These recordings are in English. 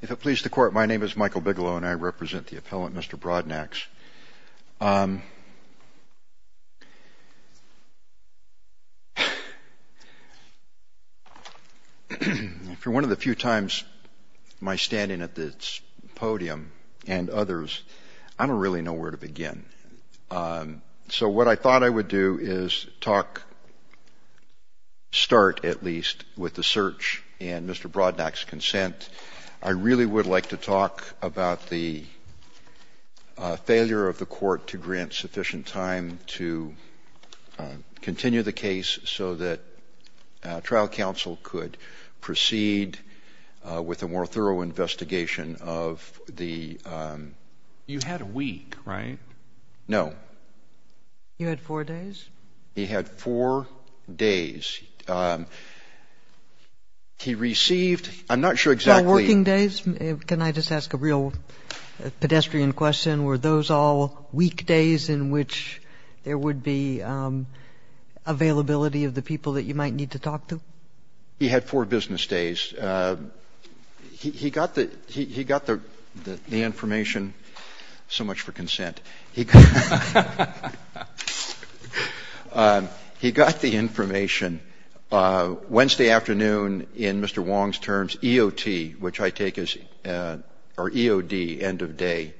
If it pleases the Court, my name is Michael Bigelow and I represent the appellant Mr. Broadnax. For one of the few times my standing at this podium and others, I don't really know where to begin. So what I thought I would do is talk, start at least, with the search and Mr. Broadnax's consent. I really would like to talk about the failure of the Court to grant sufficient time to continue the case so that trial counsel could proceed with a more thorough investigation of the... JUSTICE SCALIA You had a week, right? MR. BROADNAX No. JUSTICE SCALIA You had four days? MR. BROADNAX He had four days. He received, I'm not sure exactly... JUSTICE SCALIA Working days? Can I just ask a real pedestrian question? Were those all weekdays in which there would be availability of the people that you might need to talk to? MR. BROADNAX He had four business days. He got the information so much for consent. He got the information. Wednesday afternoon, in Mr. Wong's terms, EOT, which I take as EOD, end of day.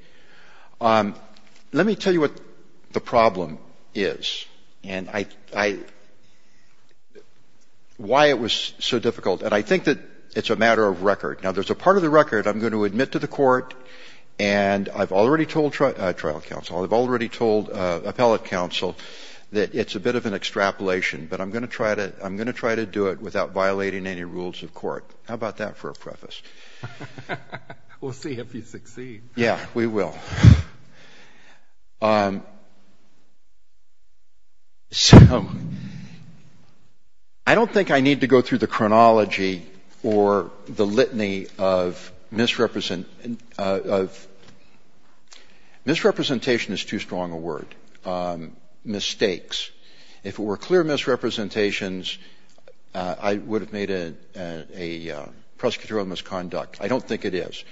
Let me tell you what the problem is and why it was so difficult. And I think that it's a matter of record. Now, there's a part of the record I'm going to admit to the Court, and I've already told trial counsel, I've already told appellate counsel that it's a bit of an extrapolation, but I'm going to try to do it without violating any rules of court. How about that for a preface? JUSTICE SCALIA We'll see if you succeed. MR. BROADNAX Yeah, we will. So I don't think I need to go through the chronology or the litany of misrepresentation is too strong a word, mistakes. If it were clear misrepresentations, I would have made it a prosecutorial misconduct. I don't think it is.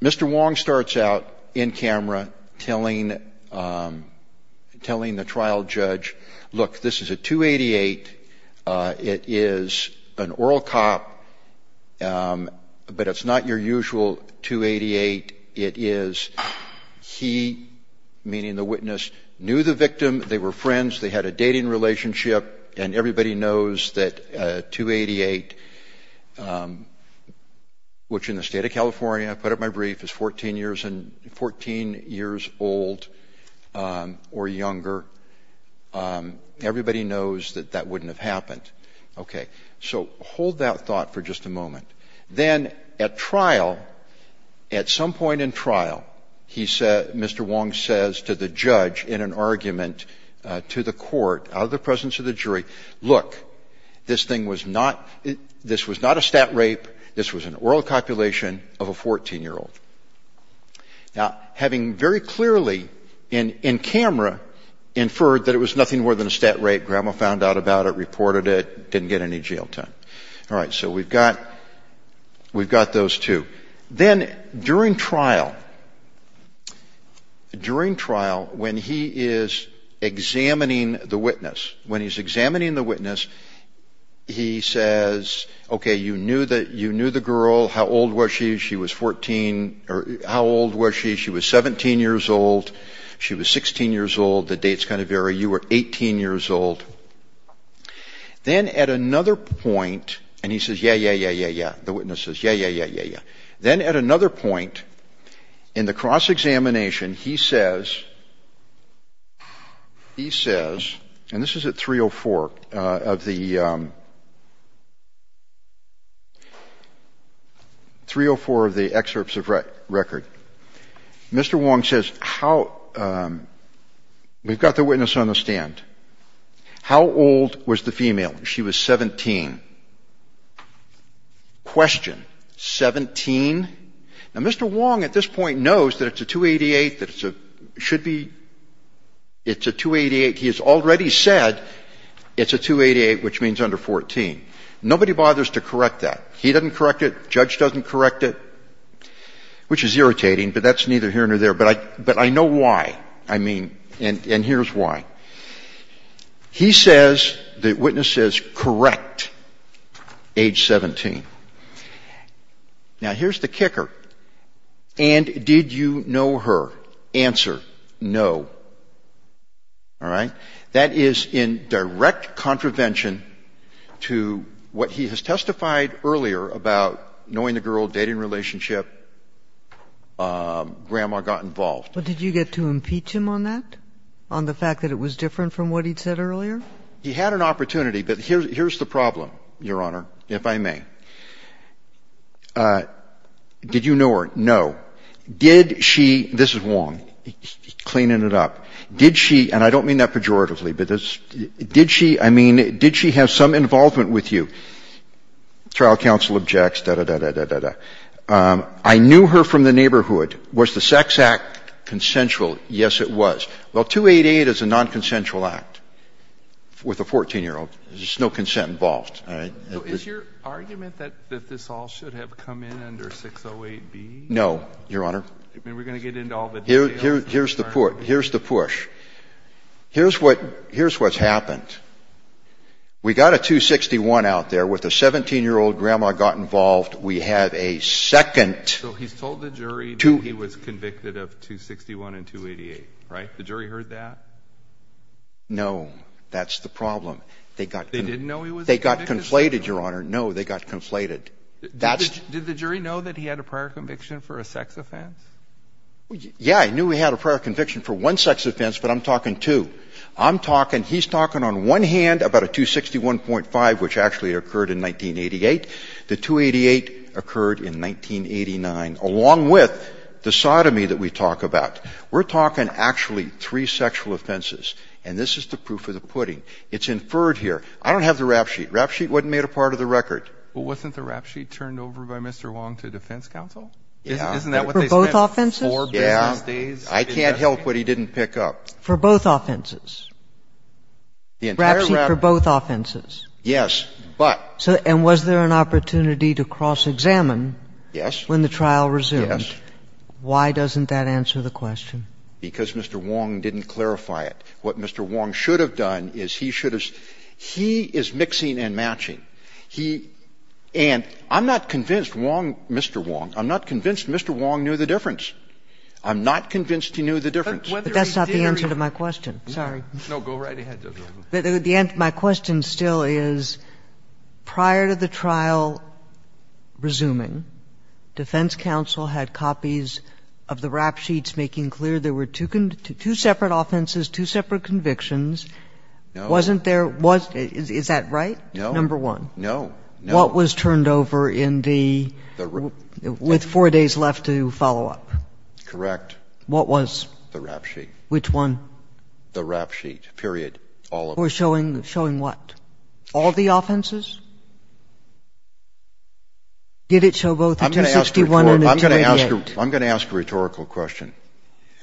Mr. Wong starts out in camera telling the trial judge, look, this is a 288. It is an oral cop, but it's not your usual 288. It is he, meaning the witness, knew the victim, they were friends, they had a dating relationship, and everybody knows that a 288, which in the State of California, I put up my brief, is 14 years old or younger, everybody knows that that wouldn't have happened. Okay. So hold that thought for just a moment. Then at trial, at some point in trial, Mr. Wong says to the judge in an argument to the presence of the jury, look, this thing was not, this was not a stat rape, this was an oral copulation of a 14-year-old. Now, having very clearly in camera inferred that it was nothing more than a stat rape, grandma found out about it, reported it, didn't get any jail time. All right. So we've got those two. Then during trial, during trial, when he is examining the witness, when he's examining the witness, he says, okay, you knew the girl, how old was she? She was 14, or how old was she? She was 17 years old, she was 16 years old, the dates kind of vary, you were 18 years old. Then at another point, and he says, yeah, yeah, yeah, yeah, yeah, the witness says, yeah, yeah, yeah, yeah, yeah. Then at another point in the cross-examination, he says, he says, and this is at 304 of the, 304 of the excerpts of record, Mr. Wong says, how, we've got the witness on the stand. How old was the female? She was 17. Question, 17? Now, Mr. Wong at this point knows that it's a 288, that it's a, should be, it's a 288. He has already said it's a 288, which means under 14. Nobody bothers to correct that. He doesn't correct it, judge doesn't correct it, which is irritating, but that's neither here nor there. But I, but I know why. I mean, and, and here's why. He says, the witness says, correct, age 17. Now, here's the kicker. And did you know her? Answer, no. All right? That is in direct contravention to what he has testified earlier about knowing the girl, dating relationship, grandma got involved. But did you get to impeach him on that, on the fact that it was different from what he'd said earlier? He had an opportunity, but here's, here's the problem, Your Honor, if I may. Did you know her? No. Did she, this is Wong, cleaning it up. Did she, and I don't mean that pejoratively, but did she, I mean, did she have some involvement with you? Trial counsel objects, da-da-da-da-da-da. I knew her from the neighborhood. Was the Sex Act consensual? Yes, it was. Well, 288 is a nonconsensual act with a 14-year-old. There's no consent involved. All right? So is your argument that, that this all should have come in under 608B? No, Your Honor. I mean, we're going to get into all the details in a moment. Here's the push. Here's what, here's what's happened. We got a 261 out there with a 17-year-old grandma got involved. We have a second. So he's told the jury that he was convicted of 261 and 288, right? The jury heard that? No, that's the problem. They got. They didn't know he was convicted? They got conflated, Your Honor. No, they got conflated. That's. Did the jury know that he had a prior conviction for a sex offense? Yeah, I knew he had a prior conviction for one sex offense, but I'm talking two. I'm He's talking on one hand about a 261.5, which actually occurred in 1988. The 288 occurred in 1989, along with the sodomy that we talk about. We're talking actually three sexual offenses, and this is the proof of the pudding. It's inferred here. I don't have the rap sheet. The rap sheet wasn't made a part of the record. Well, wasn't the rap sheet turned over by Mr. Wong to defense counsel? Yeah. Isn't that what they said? For both offenses? Yeah. Four business days? I can't help what he didn't pick up. For both offenses? The entire rap sheet. The rap sheet for both offenses? Yes, but — So — and was there an opportunity to cross-examine? Yes. When the trial resumed? Yes. Why doesn't that answer the question? Because Mr. Wong didn't clarify it. What Mr. Wong should have done is he should have — he is mixing and matching. He — and I'm not convinced Wong — Mr. Wong. I'm not convinced Mr. Wong knew the difference. I'm not convinced he knew the difference. But that's not the answer to my question. Sorry. No. Go right ahead. My question still is, prior to the trial resuming, defense counsel had copies of the rap sheets making clear there were two separate offenses, two separate convictions. No. Wasn't there — is that right? No. Number one. No. What was turned over in the — with four days left to follow up? Correct. What was? The rap sheet. Which one? The rap sheet, period. All of it. For showing — showing what? All the offenses? Did it show both the 261 and the 288? I'm going to ask a rhetorical question,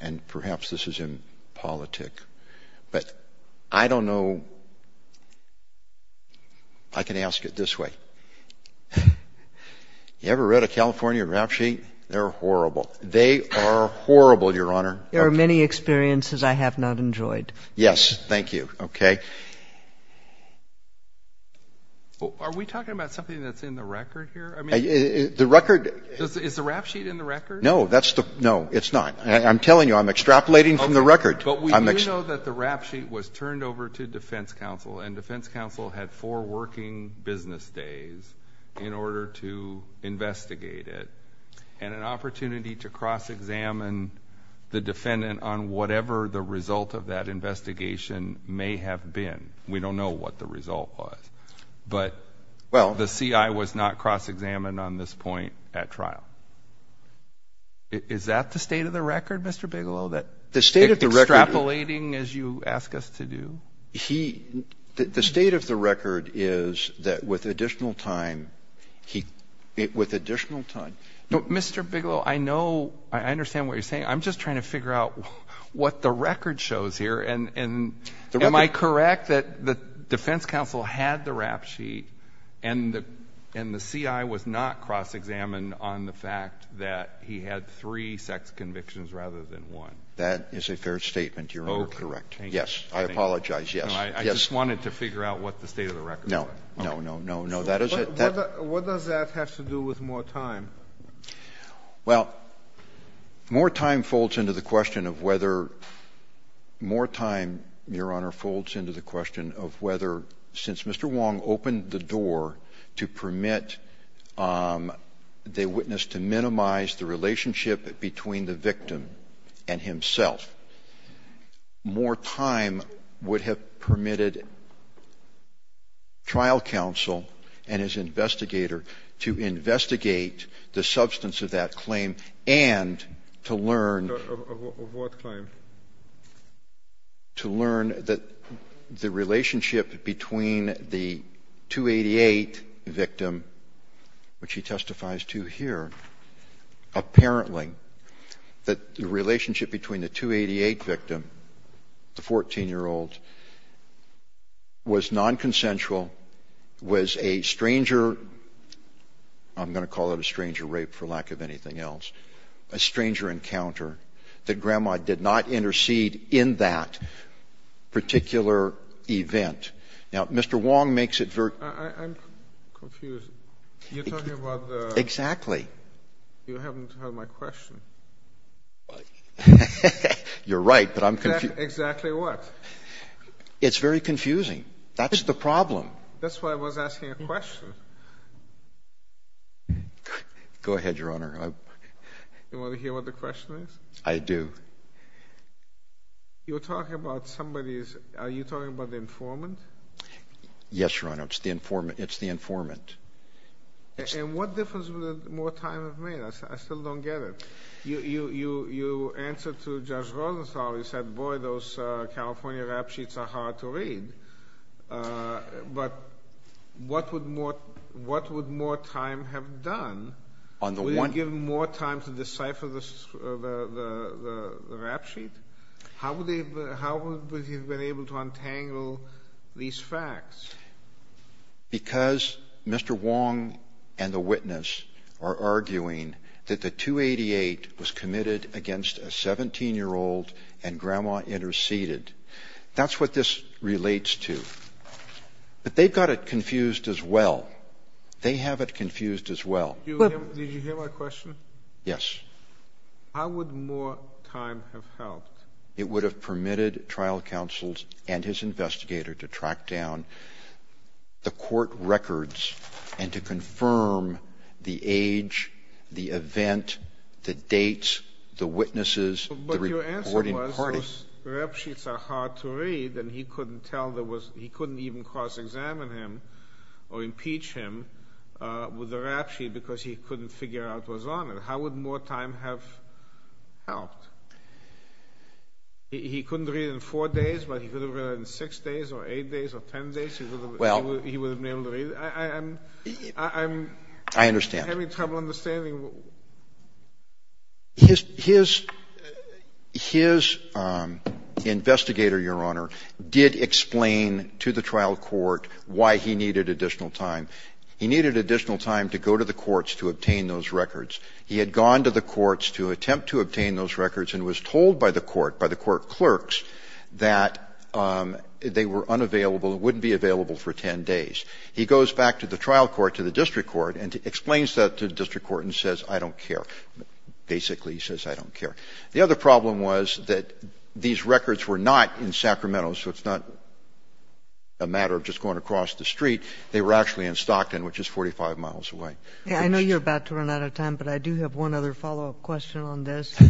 and perhaps this is impolitic, but I don't know. I can ask it this way. You ever read a California rap sheet? They're horrible. They are horrible, Your Honor. There are many experiences I have not enjoyed. Yes. Thank you. Okay. Are we talking about something that's in the record here? I mean — The record — Is the rap sheet in the record? No, that's the — no, it's not. I'm telling you, I'm extrapolating from the record. Okay. But we do know that the rap sheet was turned over to defense counsel, and defense counsel had four working business days in order to investigate it, and an opportunity to cross-examine the defendant on whatever the result of that investigation may have been. We don't know what the result was. But the CI was not cross-examined on this point at trial. Is that the state of the record, Mr. Bigelow, that — The state of the record — Extrapolating, as you ask us to do? He — the state of the record is that with additional time, he — with additional time — Mr. Bigelow, I know — I understand what you're saying. I'm just trying to figure out what the record shows here, and — The record — Am I correct that the defense counsel had the rap sheet, and the CI was not cross-examined on the fact that he had three sex convictions rather than one? That is a fair statement, Your Honor. Okay. That is correct. Yes. I apologize. Yes. I just wanted to figure out what the state of the record was. No. No, no, no, no. That is a — What does that have to do with more time? Well, more time folds into the question of whether — more time, Your Honor, folds into the question of whether, since Mr. Wong opened the door to permit the witness to minimize the relationship between the victim and himself, more time would have permitted trial counsel and his investigator to investigate the substance of that claim and to learn — Of what claim? To learn that the relationship between the 288 victim, which he testifies to here, apparently that the relationship between the 288 victim, the 14-year-old, was nonconsensual, was a stranger — I'm going to call it a stranger rape for lack of anything else — a stranger encounter, that Grandma did not intercede in that particular event. Now, Mr. Wong makes it very — I'm confused. You're talking about the — Exactly. You haven't heard my question. You're right, but I'm confused. Exactly what? It's very confusing. That's the problem. That's why I was asking a question. Go ahead, Your Honor. You want to hear what the question is? I do. You're talking about somebody's — are you talking about the informant? Yes, Your Honor. It's the informant. And what difference would more time have made? I still don't get it. You answered to Judge Rosenthal. You said, boy, those California rap sheets are hard to read. But what would more time have done? Would it have given more time to decipher the rap sheet? How would he have been able to untangle these facts? Because Mr. Wong and the witness are arguing that the 288 was committed against a 17-year-old and Grandma interceded. That's what this relates to. But they've got it confused as well. They have it confused as well. Did you hear my question? Yes. How would more time have helped? It would have permitted trial counsels and his investigator to track down the court records and to confirm the age, the event, the dates, the witnesses, the reporting parties. But your answer was those rap sheets are hard to read, and he couldn't even cross-examine him or impeach him with the rap sheet because he couldn't figure out what was on it. How would more time have helped? He couldn't read it in four days, but he could have read it in six days or eight days or ten days. He would have been able to read it. I'm having trouble understanding. His investigator, Your Honor, did explain to the trial court why he needed additional time. He needed additional time to go to the courts to obtain those records. He had gone to the courts to attempt to obtain those records and was told by the court, by the court clerks, that they were unavailable, wouldn't be available for ten days. He goes back to the trial court, to the district court, and explains that to the district court and says, I don't care. Basically, he says, I don't care. The other problem was that these records were not in Sacramento, so it's not a matter of just going across the street. They were actually in Stockton, which is 45 miles away. I know you're about to run out of time, but I do have one other follow-up question on this.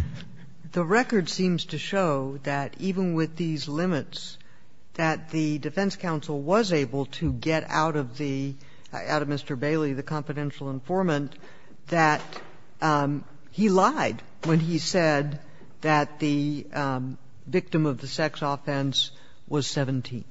The record seems to show that even with these limits, that the defense counsel was able to get out of the Mr. Bailey, the confidential informant, that he lied when he said that the victim of the sex offense was 17.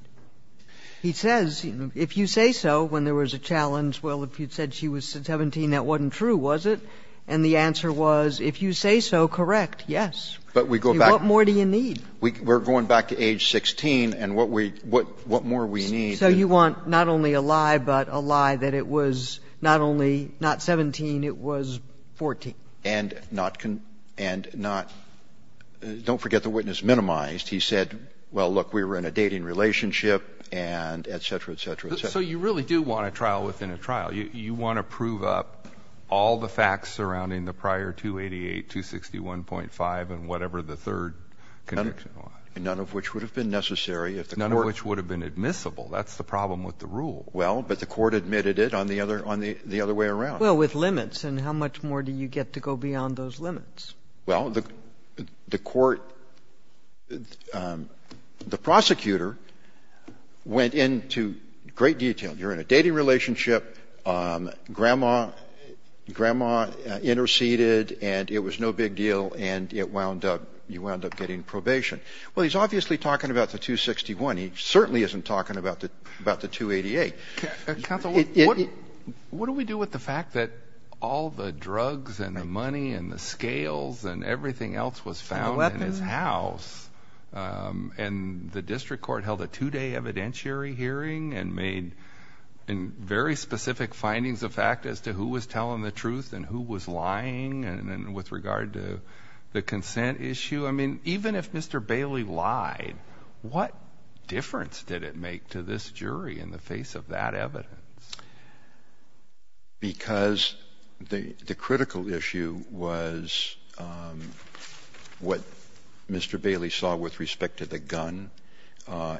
He says, if you say so, when there was a challenge, well, if you said she was 17, that wasn't true, was it? And the answer was, if you say so, correct, yes. What more do you need? We're going back to age 16, and what more do we need? So you want not only a lie, but a lie that it was not only not 17, it was 14. And not don't forget the witness minimized. He said, well, look, we were in a dating relationship, and et cetera, et cetera, et cetera. So you really do want a trial within a trial. You want to prove up all the facts surrounding the prior 288, 261.5, and whatever the third connection was. None of which would have been necessary if the Court ---- None of which would have been admissible. That's the problem with the rule. Well, but the Court admitted it on the other way around. Well, with limits. And how much more do you get to go beyond those limits? Well, the Court ---- the prosecutor went into great detail. You're in a dating relationship. Grandma interceded, and it was no big deal. And you wound up getting probation. Well, he's obviously talking about the 261. He certainly isn't talking about the 288. Counsel, what do we do with the fact that all the drugs and the money and the scales and everything else was found in his house? And the district court held a two-day evidentiary hearing and made very specific findings of fact as to who was telling the truth and who was lying. And then with regard to the consent issue, I mean, even if Mr. Bailey lied, what difference did it make to this jury in the face of that evidence? Because the critical issue was what Mr. Bailey saw with respect to the gun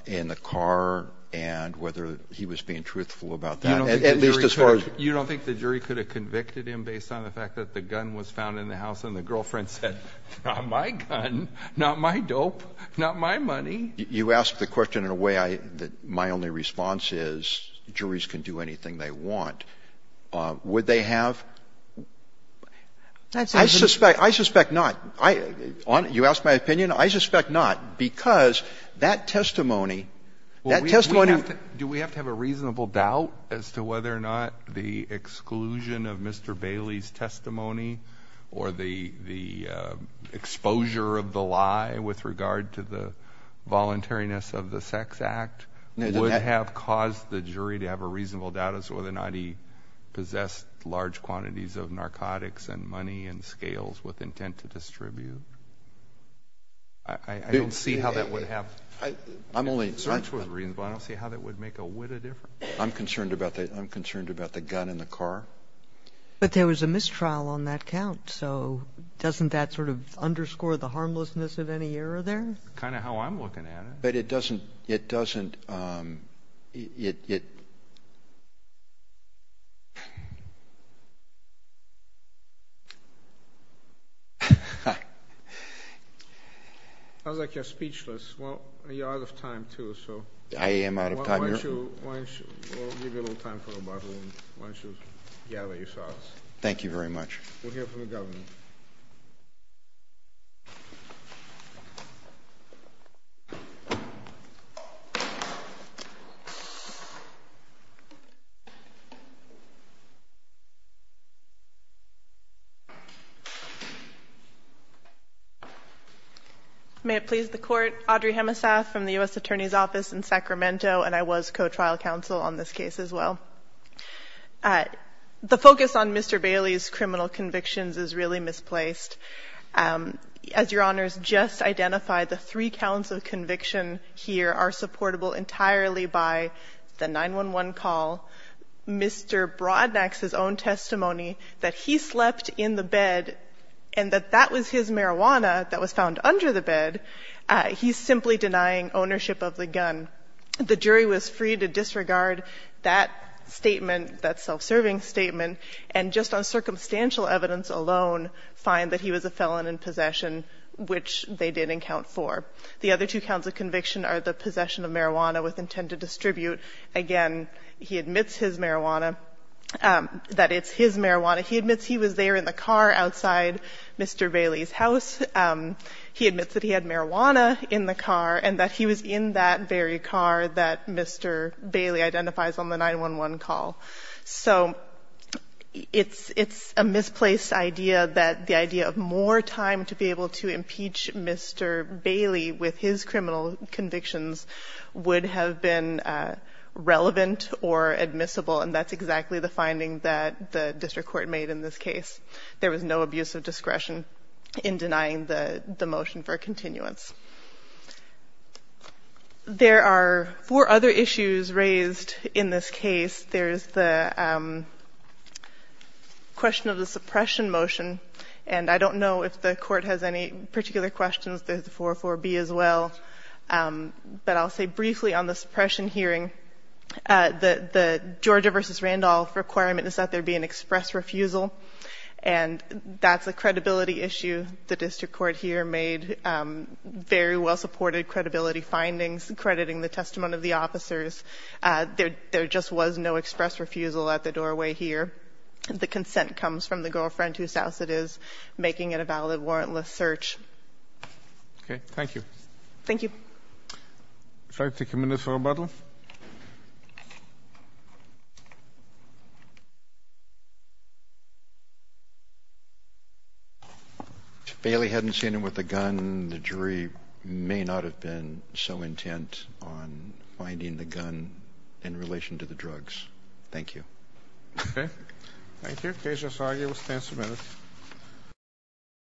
in the car and whether he was being truthful about that, at least as far as ---- And the girlfriend said, not my gun, not my dope, not my money. You ask the question in a way that my only response is juries can do anything they want. Would they have? I suspect not. You ask my opinion? I suspect not, because that testimony, that testimony ---- Well, do we have to have a reasonable doubt as to whether or not the exclusion of Mr. Bailey's testimony or the exposure of the lie with regard to the voluntariness of the sex act would have caused the jury to have a reasonable doubt as to whether or not he possessed large quantities of narcotics and money and scales with intent to distribute? I don't see how that would have ---- I'm only ---- I don't see how that would make a whitta difference. I'm concerned about the gun in the car. But there was a mistrial on that count, so doesn't that sort of underscore the harmlessness of any error there? Kind of how I'm looking at it. But it doesn't ---- It sounds like you're speechless. Well, you're out of time too, so ---- I am out of time. You're out of time. Why don't you ---- Why don't you ---- We'll give you a little time for a bottle, and why don't you gather yourselves. Thank you very much. We'll hear from the Governor. May it please the Court. Audrey Hemesath from the U.S. Attorney's Office in Sacramento, and I was co-trial counsel on this case as well. The focus on Mr. Bailey's criminal convictions is really misplaced. As Your Honors just identified, the three counts of conviction here are supportable entirely by the 911 call, Mr. Brodnax's own testimony that he slept in the bed and that that was his marijuana that was found under the bed. He's simply denying ownership of the gun. The jury was free to disregard that statement, that self-serving statement, and just on circumstantial evidence alone find that he was a felon in possession, which they did in Count 4. The other two counts of conviction are the possession of marijuana with intent to distribute. Again, he admits his marijuana, that it's his marijuana. He admits he was there in the car outside Mr. Bailey's house. He admits that he had marijuana in the car and that he was in that very car that Mr. Bailey identifies on the 911 call. So it's a misplaced idea that the idea of more time to be able to impeach Mr. Bailey with his criminal convictions would have been relevant or admissible, and that's exactly the finding that the district court made in this case. There was no abuse of discretion in denying the motion for continuance. There are four other issues raised in this case. There's the question of the suppression motion, and I don't know if the Court has any particular questions. There's the 404B as well. But I'll say briefly on the suppression hearing, the Georgia v. Randolph requirement is that there be an express refusal, and that's a credibility issue. The district court here made very well-supported credibility findings, crediting the testimony of the officers. There just was no express refusal at the doorway here. The consent comes from the girlfriend whose house it is, making it a valid warrantless search. Okay. Thank you. Thank you. If I could take a minute for rebuttal. If Bailey hadn't seen him with a gun, the jury may not have been so intent on finding the gun in relation to the drugs. Thank you. Okay. Thank you. Case is argued. We'll stand for a minute.